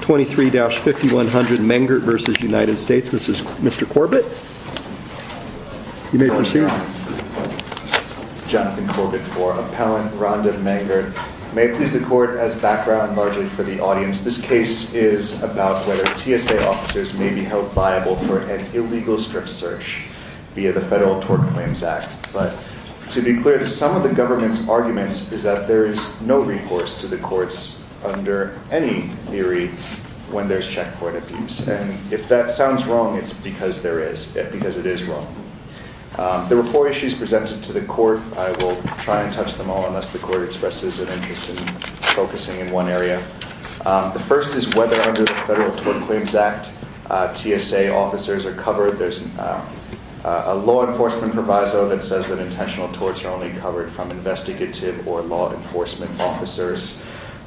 23-5100 Mangert v. United States Mr. Corbett You may proceed Jonathan Corbett IV Appellant Rhonda Mangert May I please the court as background largely for the audience This case is about whether TSA officers may be held viable for an illegal strip search via the Federal Tort Claims Act but to be clear some of the government's arguments is that there is no recourse to the courts under any theory when there's check court abuse and if that sounds wrong it's because it is wrong There were four issues presented to the court I will try and touch them all unless the court expresses an interest in focusing in one area The first is whether under the Federal Tort Claims Act TSA officers are covered There's a law enforcement proviso that says that intentional torts are only covered from investigative or law enforcement officers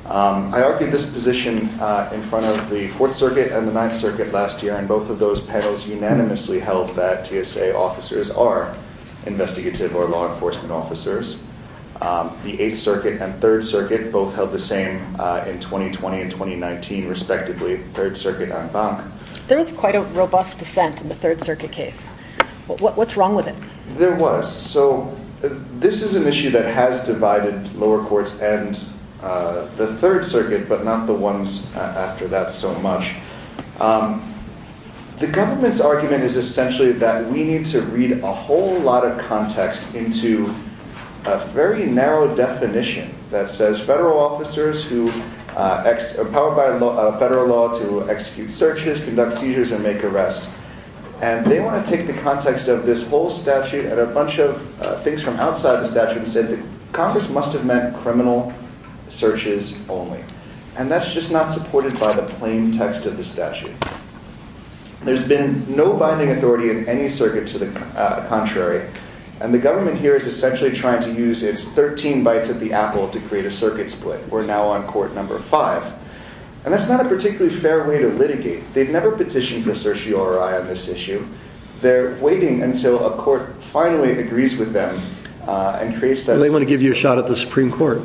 I argued this position in front of the Fourth Circuit and the Ninth Circuit last year and both of those panels unanimously held that TSA officers are investigative or law enforcement officers The Eighth Circuit and Third Circuit both held the same in 2020 and 2019 respectively, Third Circuit and Bank There was quite a robust dissent in the Third Circuit case What's wrong with it? There was This is an issue that has divided lower courts and the Third Circuit, but not the ones after that so much The government's argument is essentially that we need to read a whole lot of context into a very narrow definition that says federal officers who are powered by federal law to execute searches, conduct seizures and make arrests and they want to take the context of this whole statute and a bunch of things from outside the statute and say that Congress must have meant criminal searches only and that's just not supported by the plain text of the statute There's been no binding authority in any circuit to the contrary and the government here is essentially trying to use its 13 bytes at the apple to create a circuit split We're now on court number 5 and that's not a particularly fair way to litigate They've never petitioned for certiorari on this issue. They're waiting until a court finally agrees with them and creates that And they want to give you a shot at the Supreme Court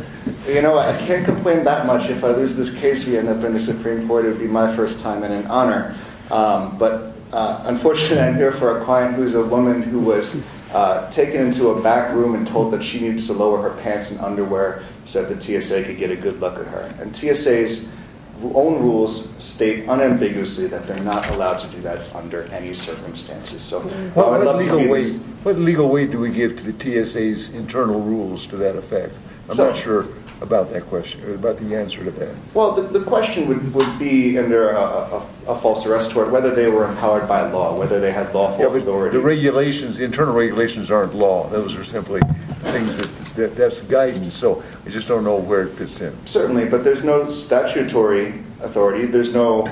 You know, I can't complain that much If I lose this case and we end up in the Supreme Court it would be my first time and an honor But unfortunately I'm here for a client who is a woman who was taken into a back room and told that she needed to lower her pants and underwear so that the TSA could get a good look at her. And TSA's own rules state unambiguously that they're not allowed to do that under any circumstances What legal weight do we give to the TSA's internal rules to that effect? I'm not sure about that question, about the answer to that Well, the question would be under a false arrest tort whether they were empowered by law, whether they had lawful authority. The regulations, the internal regulations aren't law. Those are simply things that, that's guidance so I just don't know where it fits in Certainly, but there's no statutory authority, there's no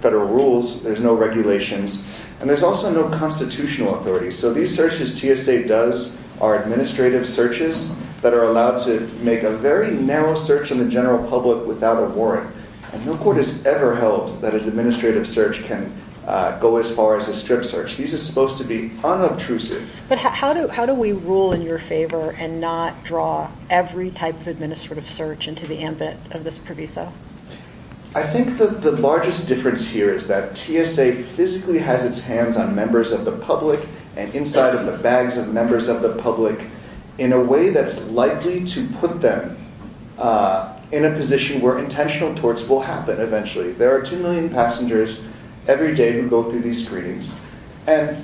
federal rules there's no regulations and there's also no constitutional authority so these searches TSA does are administrative searches that are allowed to make a very narrow search in the general public without a warrant and no court has ever held that an administrative search can go as far as a strip search. These are supposed to be unobtrusive But how do we rule in your favor and not draw every type of administrative search into the ambit of this proviso? I think that the largest difference here is that TSA physically has its hands on members of the public and inside of the bags of members of the public in a way that's likely to put them in a position where intentional torts will happen eventually. There are 2 million passengers every day who go through these screenings and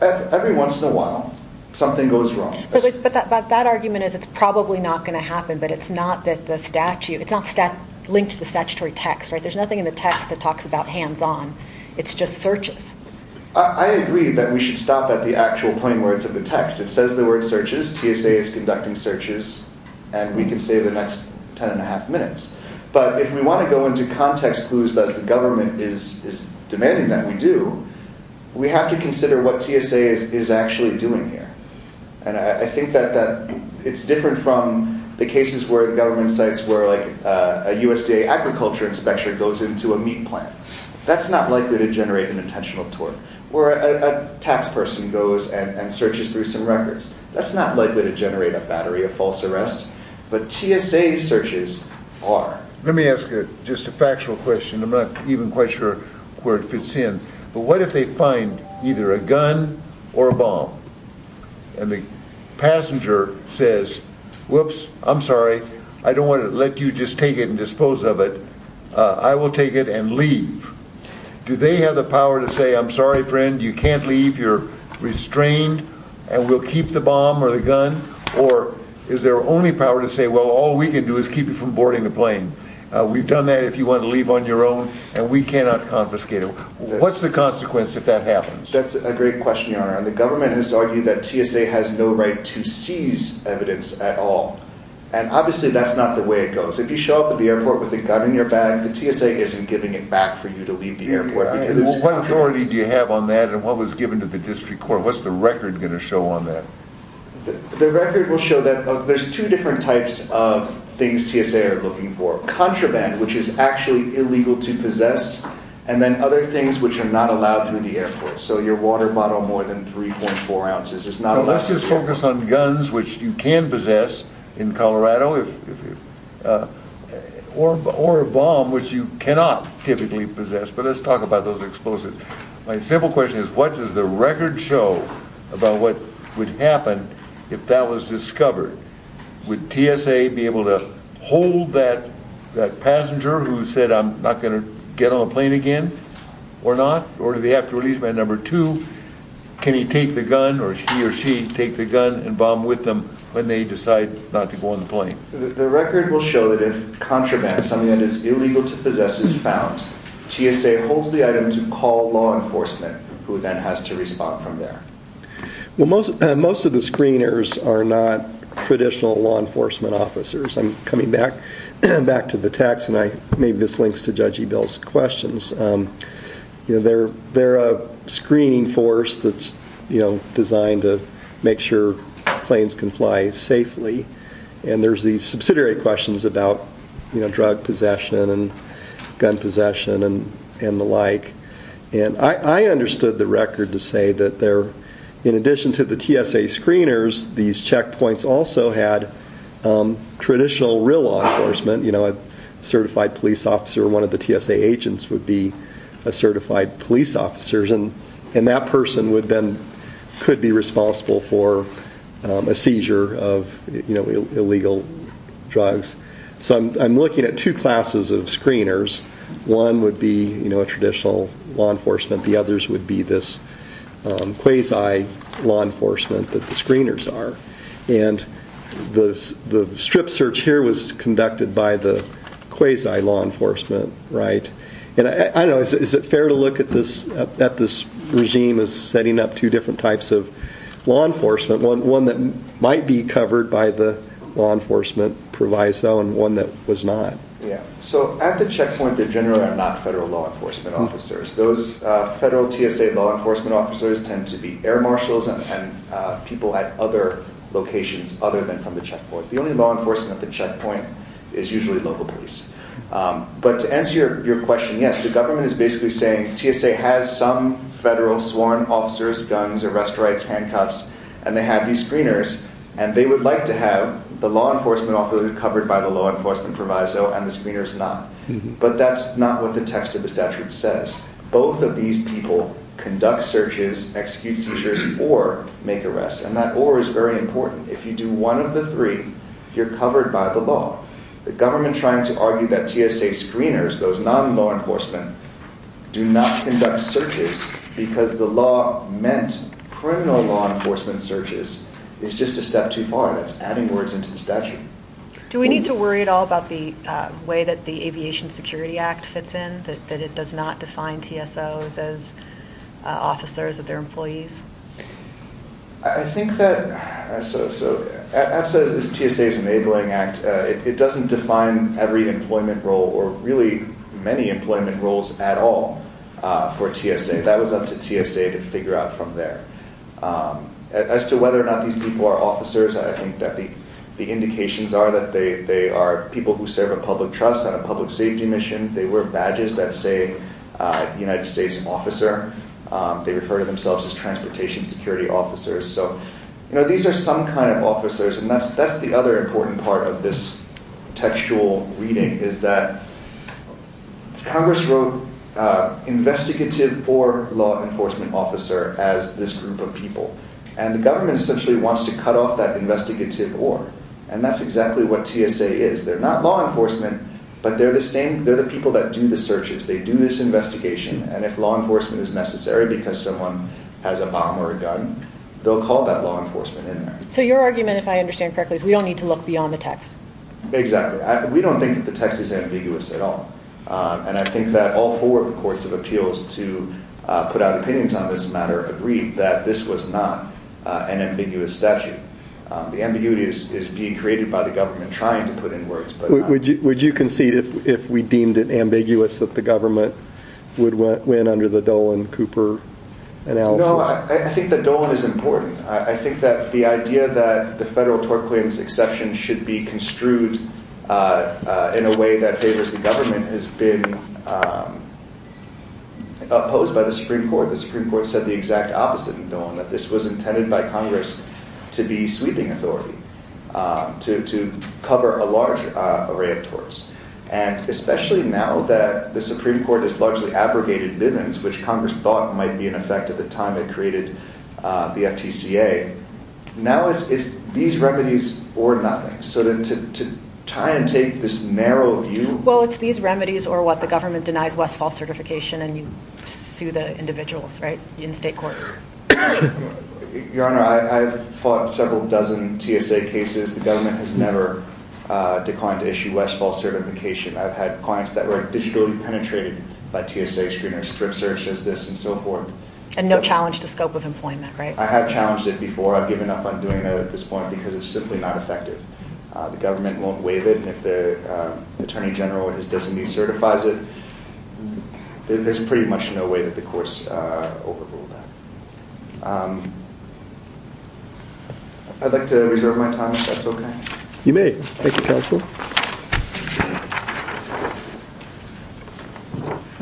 every once in a while something goes wrong. But that argument is it's probably not going to happen but it's not that the statute it's not linked to the statutory text there's nothing in the text that talks about hands on it's just searches I agree that we should stop at the actual plain words of the text. It says the word searches, TSA is conducting searches and we can save the next 10 and a half minutes. But if we want to go into context clues as the government is demanding that we do, we have to consider what TSA is actually doing here and I think that it's different from the cases where the government sites where like a USDA agriculture inspection goes into a meat plant. That's not likely to generate an intentional tort where a tax person goes and searches through some records that's not likely to generate a battery of false arrests, but TSA searches are. Let me ask you just a factual question, I'm not even quite sure where it fits in but what if they find either a gun or a bomb and the passenger says, whoops, I'm sorry, I don't want to let you just take it and dispose of it I will take it and leave do they have the power to say, I'm sorry friend, you can't leave, you're restrained and we'll keep the bomb or the gun or is their only power to say, well all we can do is keep you from boarding the plane we've done that if you want to leave on your own and we cannot confiscate it what's the consequence if that happens? That's a great question, your honor. The government has argued that TSA has no right to seize evidence at all and obviously that's not the way it goes if you show up at the airport with a gun in your bag the TSA isn't giving it back for you to leave the airport. What authority do you have on that and what was given to the district court what's the record going to show on that? The record will show that there's two different types of things TSA are looking for. Contraband which is actually illegal to possess and then other things which are not allowed through the airport. So your water bottle more than 3.4 ounces is not allowed. Let's just focus on guns which you can possess in Colorado or a bomb which you cannot typically possess but let's talk about those explosives. My simple question is what does the record show about what would happen if that was discovered? Would TSA be able to hold that passenger who said I'm not going to get on the plane again or not? Or do they have to release man number two? Can he take the gun or he or she take the gun and bomb with them when they decide not to go on the plane? The record will show that if contraband, something that is illegal to possess is found, TSA holds the item to call law enforcement who then has to respond from there. Well most of the screeners are not traditional law enforcement officers. I'm coming back to the text and I maybe this links to Judge Ebell's questions. They're a screening force that's designed to make sure planes can fly safely and there's these subsidiary questions about drug possession and gun possession and the like and I understood the record to say that in addition to the TSA screeners these checkpoints also had traditional real law enforcement, you know a certified police officer, one of the TSA agents would be a certified police officer and that person then could be responsible for a seizure of illegal drugs. So I'm looking at two classes of screeners. One would be a traditional law enforcement, the others would be this quasi law enforcement that the screeners are and the strip search here was conducted by the quasi law enforcement, right? Is it fair to look at this regime as setting up two different types of law enforcement, one that might be covered by the law enforcement proviso and one that was not? So at the checkpoint they're generally not federal law enforcement officers. Those federal TSA law enforcement officers tend to be air marshals and people at other locations other than from the checkpoint. The only law enforcement at the checkpoint is usually local police. But to answer your question, yes, the government is basically saying TSA has some federal sworn officers, guns, arrest rights, handcuffs and they have these screeners and they would like to have the law enforcement authority covered by the law enforcement proviso and the screeners not. But that's not what the text of the statute says. Both of these people conduct searches, execute seizures or make arrests and that or is very important. If you do one of the three you're covered by the law. The government trying to argue that TSA screeners, those non-law enforcement do not conduct searches because the law meant criminal law enforcement searches is just a step too far. That's adding words into the statute. Do we need to worry at all about the way that the Aviation Security Act fits in, that it does not define TSOs as officers or their employees? I think that as TSA's enabling act, it doesn't define every employment role or really many employment roles at all for TSA. That was up to TSA to figure out from there. As to whether or not these people are officers, I think that the indications are that they are people who serve a public trust on a public safety mission. They wear badges that say United States officer. They refer to themselves as transportation security officers. These are some kind of officers and that's the other important part of this textual reading is that Congress wrote investigative or law enforcement officer as this group of people and the government essentially wants to cut off that investigative or and that's exactly what law enforcement, but they're the people that do the searches. They do this investigation and if law enforcement is necessary because someone has a bomb or a gun, they'll call that law enforcement in there. So your argument, if I understand correctly, is we don't need to look beyond the text? Exactly. We don't think that the text is ambiguous at all. I think that all four of the courts of appeals to put out opinions on this matter agreed that this was not an ambiguous statute. The ambiguity is being created by the government trying to put in words. Would you concede if we deemed it ambiguous that the government would win under the Dolan Cooper analogy? No, I think that Dolan is important. I think that the idea that the federal tort claims exception should be construed in a way that favors the government has been opposed by the Supreme Court. The Supreme Court said the exact opposite in Dolan, that this was intended by Congress to be sweeping authority to cover a large array of torts. And especially now that the Supreme Court has largely abrogated Bivens, which Congress thought might be in effect at the time it created the FTCA, now it's these remedies or nothing. So to try and take this narrow view... Well, it's these remedies or what the government denies Westfall certification and you sue the individuals, right, in state court. Your Honor, I've fought several dozen TSA cases. The government has never declined to issue Westfall certification. I've had clients that were digitally penetrated by TSA screeners, strip searches, this and so forth. And no challenge to scope of employment, right? I have challenged it before. I've given up on doing that at this point because it's simply not effective. The government won't waive it and if the Attorney General or his designee certifies it, there's pretty much no way that the courts overrule that. Um... I'd like to reserve my time if that's okay. You may. Thank you, Counsel.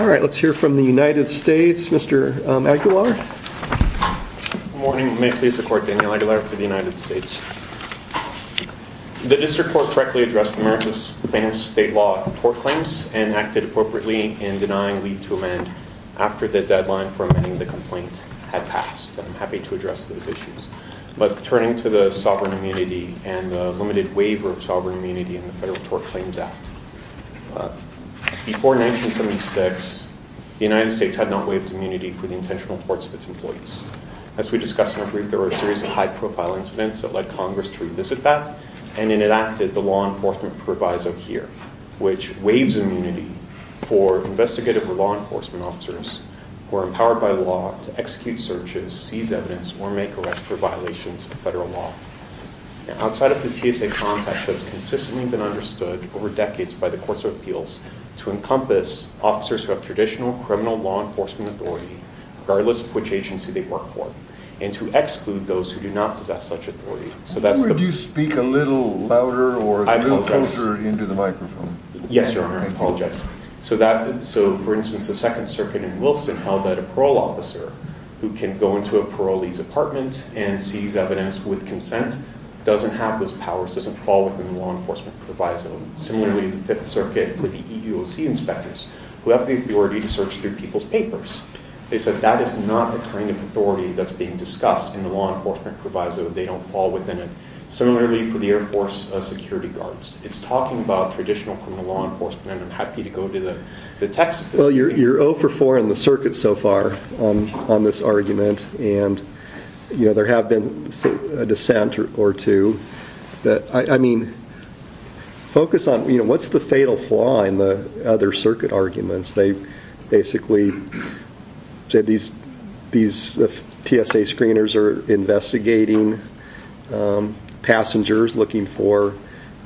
All right. Let's hear from the United States. Mr. Aguilar. Good morning. May it please the Court, Daniel Aguilar for the United States. The District Court correctly addressed the Memphis plaintiff's state law court claims and acted appropriately in denying leave to amend after the deadline for amending the complaint had passed. I'm happy to address those issues. But turning to the sovereign immunity and the limited waiver of sovereign immunity in the Federal Tort Claims Act. Before 1976, the United States had not waived immunity for the intentional courts of its employees. As we discussed in our brief, there were a series of high-profile incidents that led Congress to revisit that and enacted the law enforcement proviso here, which waives immunity for investigative or law enforcement officers who are empowered by law to execute searches, seize evidence, or make arrests for violations of federal law. Outside of the TSA context, that's consistently been understood over decades by the courts of appeals to encompass officers who have traditional criminal law enforcement authority regardless of which agency they work for and to exclude those who do not possess such authority. So that's the... Would you speak a little louder or a little closer into the microphone? Yes, Your Honor. I apologize. So, for instance, the Second Circuit in Wilson held that a parole officer who can go into a parolee's apartment and seize evidence with consent doesn't have those powers, doesn't fall within the law enforcement proviso. Similarly, the Fifth Circuit, the EUOC inspectors, who have the authority to search through people's papers, they said that is not the kind of authority that's being discussed in the law enforcement proviso. They don't fall within it. Similarly, for the Air Force security guards, it's talking about traditional criminal law enforcement. I'm happy to go to the text of this. Well, you're 0 for 4 in the circuit so far on this argument and there have been a dissent or two. I mean, focus on what's the fatal flaw in the other circuit arguments? They basically said these TSA screeners are investigating passengers looking for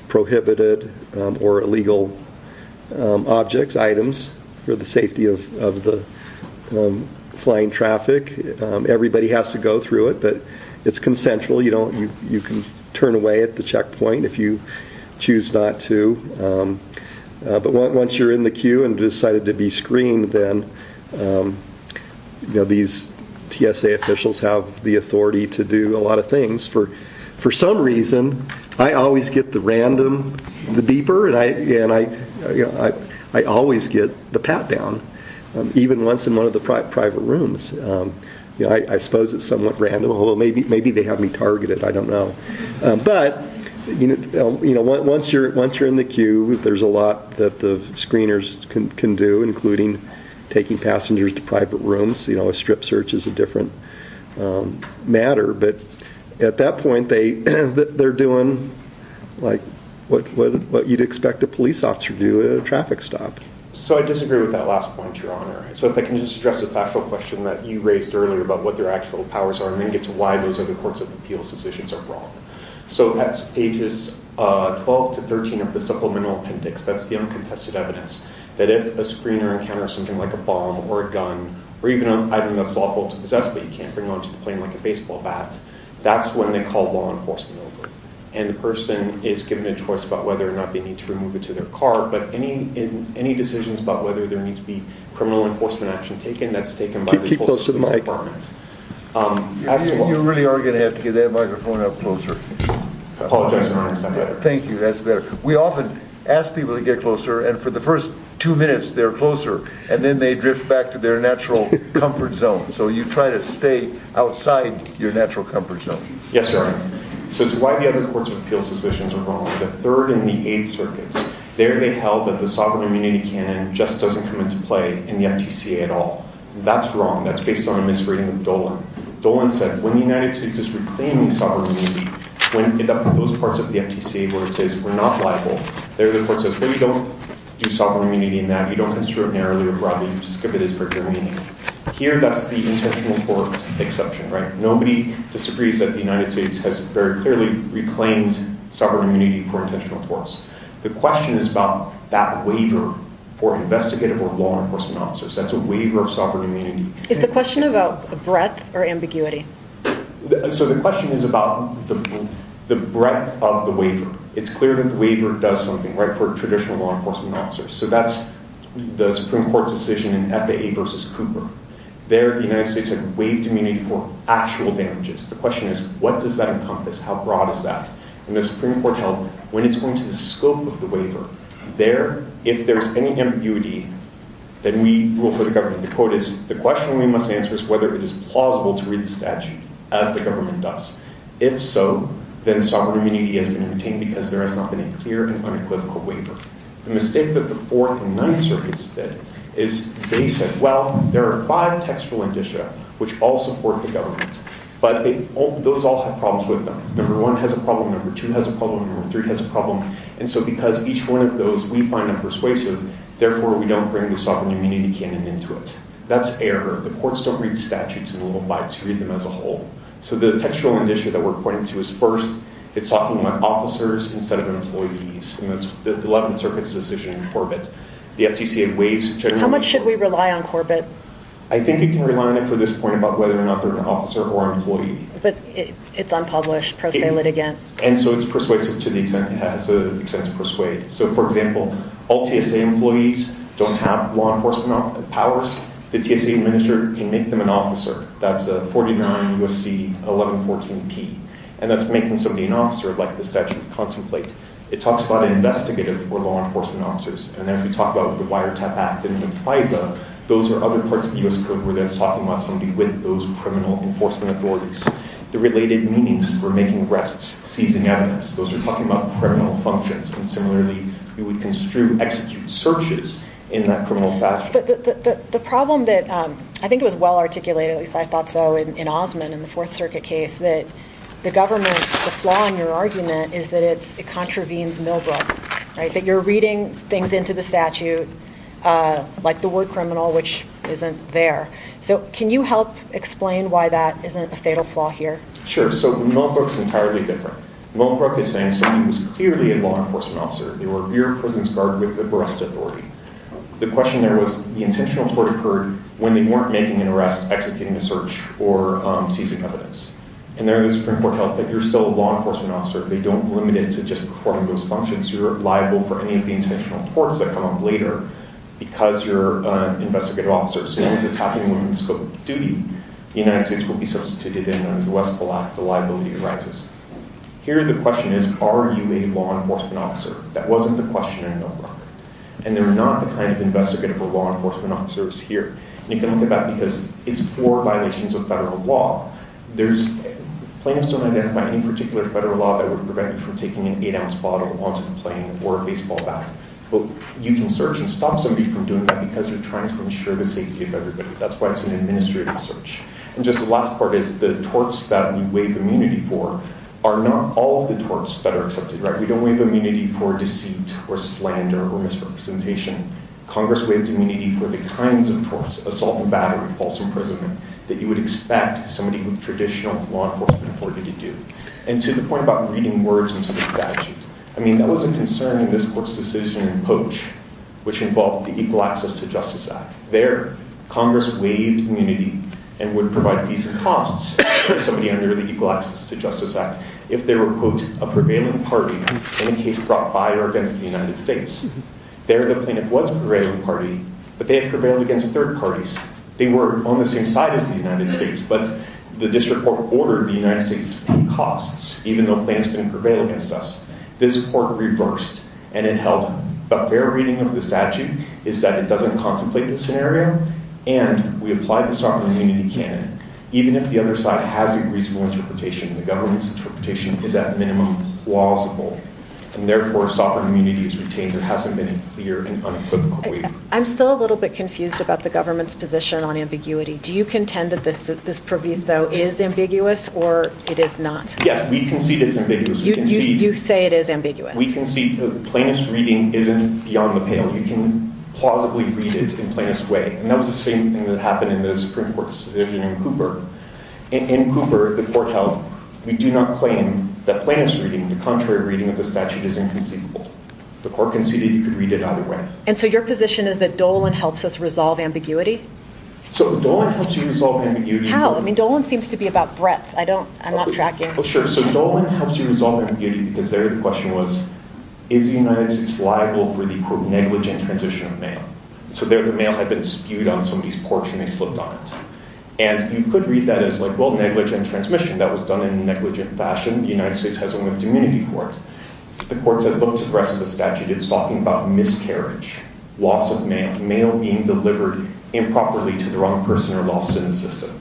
prohibited or illegal objects, items, for the safety of the flying traffic. Everybody has to go through it, but it's consensual. You can turn away at the checkpoint if you choose not to. But once you're in the queue and decided to be screened, then these TSA officials have the authority to do a lot of things for some reason I always get the random the beeper and I always get the pat down, even once in one of the private rooms. I suppose it's somewhat random. Maybe they have me targeted. I don't know. But once you're in the queue, there's a lot that the screeners can do, including taking passengers to private rooms. Strip search is a different matter, but at that point they're doing what you'd expect a police officer to do at a traffic stop. I disagree with that last point, Your Honor. If I can just address a factual question that you raised earlier about what their actual powers are and then get to why those other courts of appeals decisions are wrong. That's pages 12 to 13 of the Supplemental Appendix. That's the uncontested evidence that if a screener encounters something like a bomb or a gun or even an item that's lawful to possess but you can't bring onto the plane like a baseball bat, that's when they call law enforcement over. And the person is given a choice about whether or not they need to remove it to their car, but any decisions about whether there needs to be criminal enforcement action taken, that's taken by the police department. You really are going to have to get that microphone up closer. Thank you. That's better. We often ask people to get closer and for the first two minutes they're closer and then they drift back to their natural comfort zone. So you try to stay outside your natural comfort zone. Yes, Your Honor. So it's why the other courts of appeals decisions are wrong. The third and the eighth circuits, there they held that the sovereign immunity canon just doesn't come into play in the FTCA at all. That's wrong. That's based on a misreading of Dolan. Dolan said when the United States is reclaiming sovereign immunity, when those parts of the FTCA where it says we're not liable, there the court says, well you don't do sovereign immunity in that. You don't construct narrowly or broadly. You just give it its regular meaning. Here that's the intentional tort exception, right? Nobody disagrees that the United States has very clearly reclaimed sovereign immunity for intentional torts. The question is about that waiver for investigative or law enforcement officers. That's a waiver of sovereign immunity. Is the question about breadth or ambiguity? So the question is about the breadth of the waiver. It's clear that the waiver does something, right, for traditional law enforcement officers. So that's the Supreme Court's decision in FAA versus Cooper. There the United States had waived immunity for actual damages. The question is, what does that encompass? How broad is that? And the Supreme Court held when it's going to the scope of the waiver, there, if there's any ambiguity, then we rule for the government. The quote is, the question we must answer is whether it is plausible to read the statute as the government does. If so, then sovereign immunity has been obtained because there has not been a clear and unequivocal waiver. The mistake that the Fourth and Ninth Circuits did is they said, well, there are five textual indicia which all support the government, but those all have problems with them. Number one has a problem, number two has a problem, number three has a problem, and so because each one of those we find them persuasive, therefore we don't bring the sovereign immunity canon into it. That's error. The courts don't read statutes in little bites. You read them as a whole. So the textual indicia that we're pointing to is first, it's talking about officers instead of employees and that's the Eleventh Circuit's decision in Corbett. The FTC had waived How much should we rely on Corbett? I think you can rely on it for this point about whether or not they're an officer or an employee. But it's unpublished. Pro se lit again. And so it's persuasive to the extent it has the extent to persuade. So for example, all TSA employees don't have law enforcement powers. The TSA administrator can make them an officer. That's a 49 USC 1114P and that's making somebody an officer like the statute contemplate. It talks about investigative or law enforcement officers and then we talk about the Wiretap Act and the FISA. Those are other parts of the U.S. Code where that's talking about somebody with those criminal enforcement authorities. The related meanings for making arrests, seizing evidence, those are talking about criminal functions. And similarly we would construe, execute searches in that criminal fashion. The problem that, I think it was well in the Fourth Circuit case that the government's, the flaw in your argument is that it contravenes Millbrook. That you're reading things into the statute like the word criminal which isn't there. So can you help explain why that isn't a fatal flaw here? Sure. So Millbrook's entirely different. Millbrook is saying somebody was clearly a law enforcement officer. They were your prison's guard with the barrest authority. The question there was the intentional tort occurred when they weren't making an arrest executing a search or seizing evidence. And there is important to note that you're still a law enforcement officer. They don't limit it to just performing those functions. You're liable for any of the intentional torts that come up later because you're an investigative officer. As soon as it's happening in scope of duty the United States will be substituted and under the West Pole Act the liability arises. Here the question is, are you a law enforcement officer? That wasn't the question in Millbrook. And they're not the kind of investigative or law enforcement officers here. And you can look at that because it's for violations of federal law. Plaintiffs don't identify any particular federal law that would prevent you from taking an 8-ounce bottle onto the plane or a baseball bat. You can search and stop somebody from doing that because you're trying to ensure the safety of everybody. That's why it's an administrative search. And just the last part is the torts that we waive immunity for are not all of the torts that are accepted. We don't waive immunity for deceit or slander or misrepresentation. Congress waived immunity for the kinds of torts, assault and battery, false imprisonment that you would expect somebody with traditional law enforcement authority to do. And to the point about reading words into the statute, I mean, that was a concern in this court's decision in Poach which involved the Equal Access to Justice Act. There, Congress waived immunity and would provide fees and costs to somebody under the Equal Access to Justice Act if they were, quote, a prevailing party in a case brought by or against the United States. There, the plaintiff was a prevailing party, but they have prevailed against third parties. They were on the same side as the United States, but the district court ordered the United States to pay costs even though plaintiffs didn't prevail against us. This court reversed and it held a fair reading of the statute is that it doesn't contemplate this scenario and we apply the sovereign immunity canon even if the other side has a reasonable interpretation and the government's interpretation is at minimum plausible. And therefore, sovereign immunity is retained. There hasn't been a clear and unequivocal waiver. I'm still a little bit confused about the government's position on ambiguity. Do you contend that this proviso is ambiguous or it is not? Yes, we concede it's ambiguous. You say it is ambiguous. We concede the plaintiff's reading isn't beyond the pale. You can plausibly read it in plaintiff's way. And that was the same thing that happened in the Supreme Court's decision in Cooper. In Cooper, the court held, we do not claim that plaintiff's reading, the contrary reading of the statute is inconceivable. The court conceded you could read it either way. And so your position is that Dolan helps us resolve ambiguity? So, Dolan helps you resolve ambiguity. How? I mean, Dolan seems to be about breadth. I don't, I'm not tracking. Well, sure. So, Dolan helps you resolve ambiguity because there the question was is the United States liable for the negligent transition of mail? So, there the mail had been spewed on somebody's porch and they slipped on it. And you could read that as like, well, negligent transmission that was done in a negligent fashion. The United States has a limited immunity for it. The courts have looked at the rest of the statute. It's talking about miscarriage, loss of mail, mail being delivered improperly to the wrong person or lost in the system.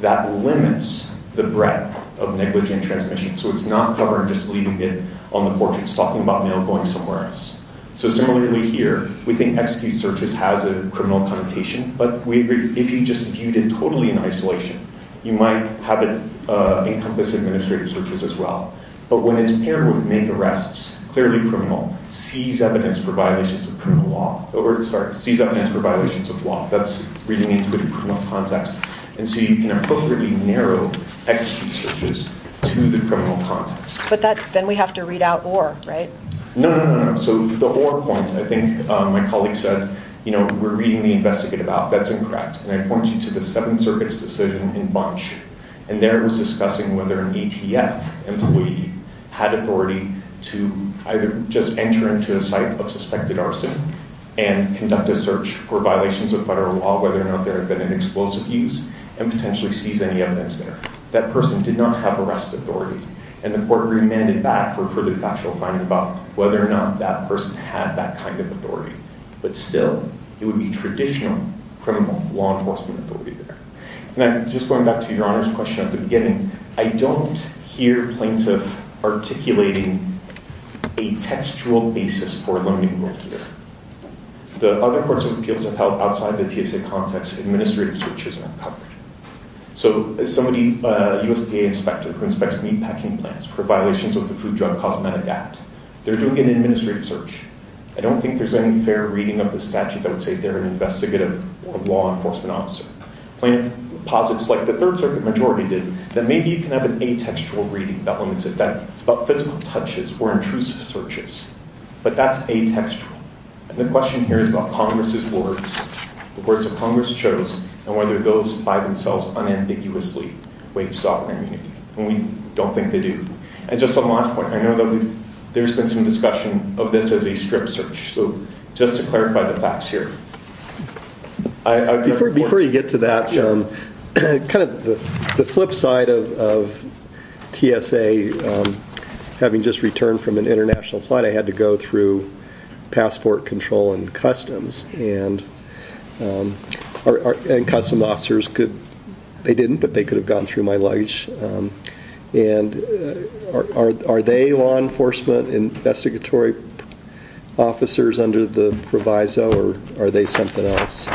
That limits the breadth of negligent transmission. So, it's not covered just leaving it on the porch. It's talking about mail going somewhere else. So, similarly here, we think execute searches has a criminal connotation. But we agree if you just viewed it totally in isolation, you might have it encompass administrative searches as well. But when it's paired with make arrests, clearly criminal, seize evidence for violations of criminal law. Or, sorry, seize evidence for violations of law. That's reading into a criminal context. And so, you can appropriately narrow execute searches to the criminal context. But then we have to read out or, right? No, no, no. So, the or point, I think my colleague said, you know, we're reading the investigative out. That's incorrect. And I point you to the Seventh Circuit's decision in Bunch. And there it was discussing whether an ETF employee had authority to either just enter into a site of suspected arson and conduct a search for violations of federal law, whether or not there had been an explosive use, and potentially seize any evidence there. That person did not have arrest authority. And the court remanded back for further factual finding about whether or not that person had that kind of authority. But still, it would be traditional criminal law enforcement authority there. And I'm just going back to your Honor's question at the beginning. I don't hear plaintiff articulating a textual basis for learning more here. The other courts and appeals have held outside the TSA context. Administrative searches aren't covered. So, somebody, a USTA inspector who inspects meat packing plants for violations of the Food, Drug, Cosmetic Act, they're doing an administrative search. I don't think there's any fair reading of the statute that would say they're an investigative law enforcement officer. Plaintiff posits, like the Third Circuit majority did, that maybe you can have an atextual reading that limits it. That it's about physical touches or intrusive searches. But that's atextual. And the question here is about Congress's words, the words that Congress chose, and whether those by themselves unambiguously waive sovereign immunity. And we don't think they do. And just on Maude's point, I know that there's been some discussion of this as a strip search. So, just to clarify the facts here. Before you get to that, kind of the flip side of TSA having just returned from an international flight, I had to go through passport control and customs. And custom officers could, they didn't, but they could have gone through my luggage. And are they law enforcement investigatory officers under the proviso, or are they something else?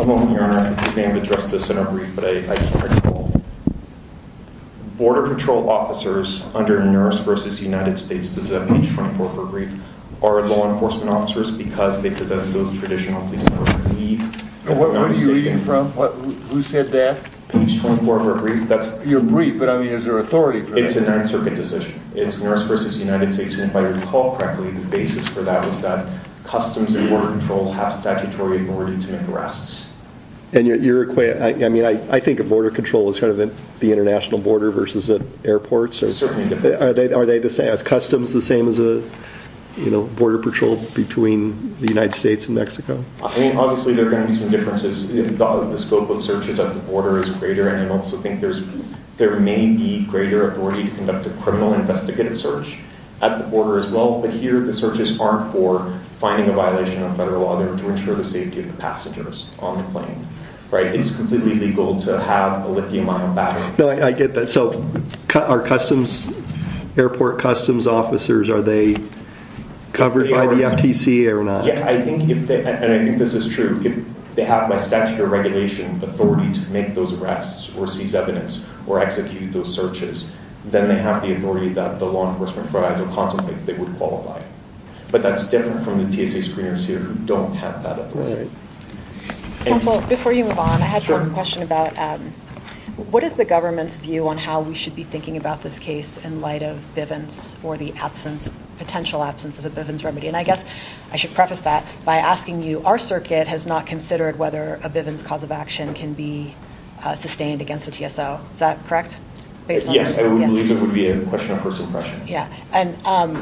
A moment, Your Honor. We may have addressed this in our brief, but I just want to recall. Border control officers under NERSS versus United States, does that page 24 of our brief, are law enforcement officers because they possess those traditional, please note, leave What are you reading from? Who said that? Page 24 of our brief. Your brief, but I mean, is there authority for that? It's a Ninth Circuit decision. It's NERSS versus United States, and if I recall correctly, the basis for that was that customs and border control have statutory authority to make arrests. I mean, I think of border control as kind of the international border versus at airports. Are customs the same as border patrol between the United States and Mexico? I mean, obviously, there are going to be some differences. The scope of searches at the borders, there may be greater authority to conduct a criminal investigative search at the border as well, but here the searches aren't for finding a violation of federal law. They're to ensure the safety of the passengers on the plane. Right? It's completely legal to have a lithium-ion battery. I get that. So are customs airport customs officers, are they covered by the FTC or not? I think this is true. They have by statutory regulation authority to make those arrests or seize evidence or execute those searches. Then they have the authority that the law enforcement for ISIL contemplates they would qualify. But that's different from the TSA screeners here who don't have that authority. Counsel, before you move on, I had one question about what is the government's view on how we should be thinking about this case in light of Bivens or the absence, potential absence, of a Bivens remedy? And I guess I should preface that by asking you, our circuit has not said that a Bivens cause of action can be sustained against a TSO. Is that correct? Yes, I would believe it would be a question of first impression. I'm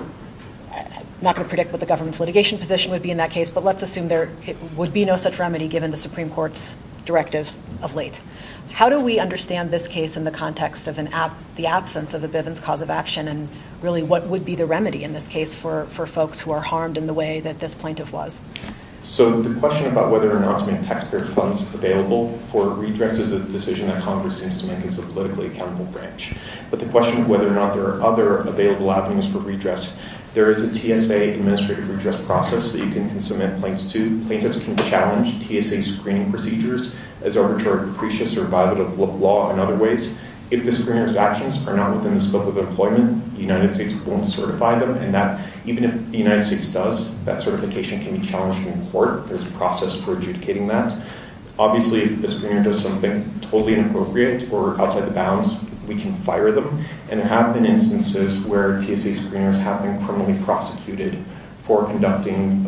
not going to predict what the government's litigation position would be in that case, but let's assume there would be no such remedy given the Supreme Court's directives of late. How do we understand this case in the context of the absence of a Bivens cause of action and really what would be the remedy in this case for folks who are harmed in the way that this plaintiff was? So, the question about whether or not to make taxpayer funds available for redress is a decision that Congress seems to make as a politically accountable branch. But the question of whether or not there are other available avenues for redress, there is a TSA administrative redress process that you can submit plaintiffs to. Plaintiffs can challenge TSA screening procedures as arbitrary capricious or violative of law in other ways. If the screeners' actions are not within the scope of their employment, the United States won't certify them, and that, even if the United States does, that certification can be challenged in court. There's a process for adjudicating that. Obviously, if the screener does something totally inappropriate or outside the bounds, we can fire them. And there have been instances where TSA screeners have been permanently prosecuted for conducting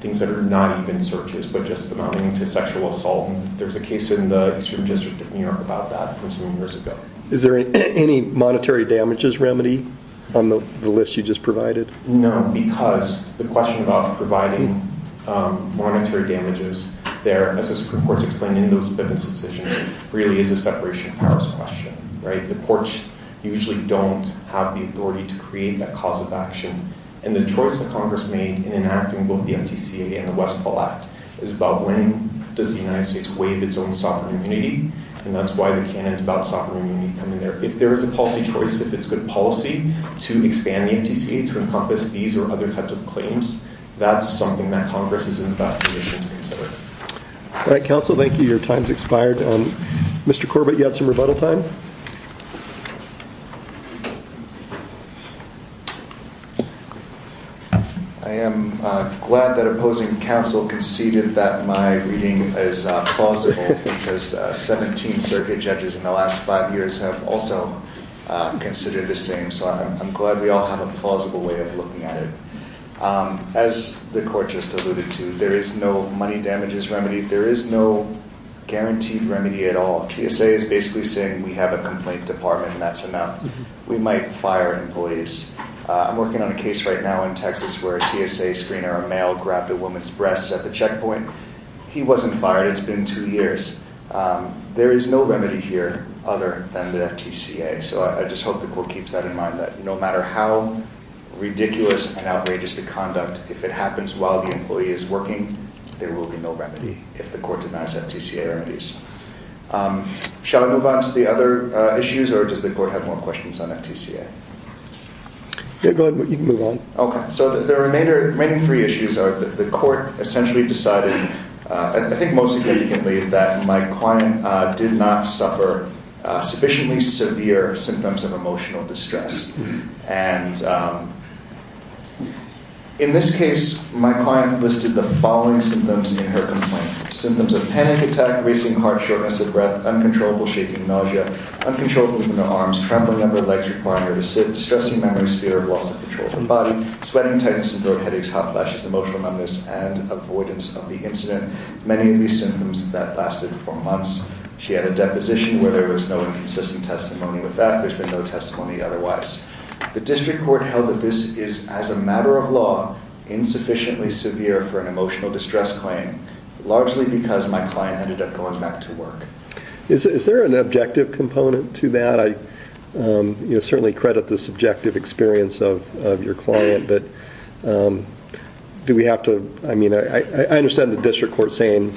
things that are not even searches but just amounting to sexual assault. There's a case in the Eastern District of New York about that from some years ago. Is there any monetary damages remedy on the list you just provided? No, because the question about providing monetary damages, as the Supreme Court is explaining in those decisions, really is a separation of powers question. The courts usually don't have the authority to create that cause of action, and the choice that Congress made in enacting both the FTCA and the Westpaw Act is about when does the United States waive its own sovereign immunity, and that's why the canon is about sovereign immunity coming there. If there is a policy choice, if it's a good policy to expand the FTCA to encompass these or other types of claims, that's something that Congress is in the best position to consider. All right, counsel, thank you. Your time's expired. Mr. Corbett, you have some rebuttal time? I am glad that opposing counsel conceded that my reading is plausible because 17 circuit judges in the last five years have also considered the same, so I'm glad we all have a plausible way of looking at it. As the court just alluded to, there is no money damages remedy. There is no guaranteed remedy at all. TSA is basically saying we have a complaint department, and that's enough. We might fire employees. I'm working on a case right now in Texas where a TSA screener, a male, grabbed a woman's breasts at the checkpoint. He wasn't fired. It's been two years. There is no remedy here other than the FTCA, so I just hope the court keeps that in mind, that no matter how ridiculous and outrageous the conduct, if it happens while the employee is working, there will be no remedy if the court denies FTCA remedies. Shall I move on to the other issues, or does the court have more questions on FTCA? Yeah, go ahead. You can move on. Okay, so the remaining three issues are the court essentially decided, I think most significantly, that my client did not suffer sufficiently severe symptoms of emotional distress. And in this case, my client listed the following symptoms in her complaint. Symptoms of panic attack, racing heart, shortness of breath, uncontrollable shaking, nausea, uncontrollable movement of arms, trembling of the legs requiring her to sit, distressing memory, severe loss of control of the body, sweating, tightness in throat, headaches, hot flashes, emotional numbness, and avoidance of the symptoms that lasted for months. She had a deposition where there was no consistent testimony with that. There's been no testimony otherwise. The district court held that this is, as a matter of law, insufficiently severe for an emotional distress claim, largely because my client ended up going back to work. Is there an objective component to that? I certainly credit the subjective experience of your client, but do we have to, I mean, I understand the district court saying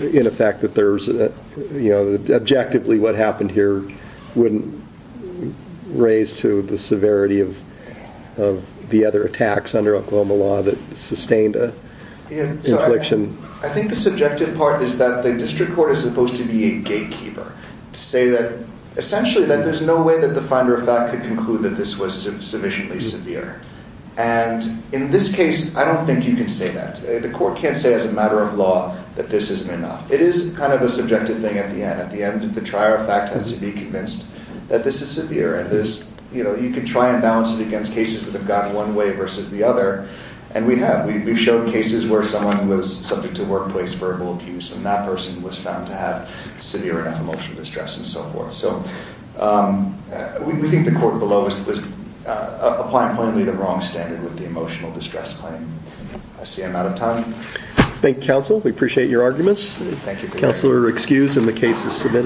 in effect that there's an, you know, objectively what happened here wouldn't raise to the severity of the other attacks under Oklahoma law that sustained an infliction. I think the subjective part is that the district court is supposed to be a gatekeeper, to say that essentially that there's no way that the finder of fact could conclude that this was sufficiently severe. And in this case, I don't think you can say that. The court can't say as a matter of law that this isn't enough. It is kind of a subjective thing at the end. At the end, the trier of fact has to be convinced that this is severe, and there's, you know, you can try and balance it against cases that have gotten one way versus the other, and we have. We've shown cases where someone was subject to workplace verbal abuse and that person was found to have severe enough emotional distress and so forth. So, we think the court below was applying plainly the wrong standard with the emotional distress claim. I see I'm out of time. Thank you, counsel. We appreciate your arguments. Counselor excused, and the case is submitted.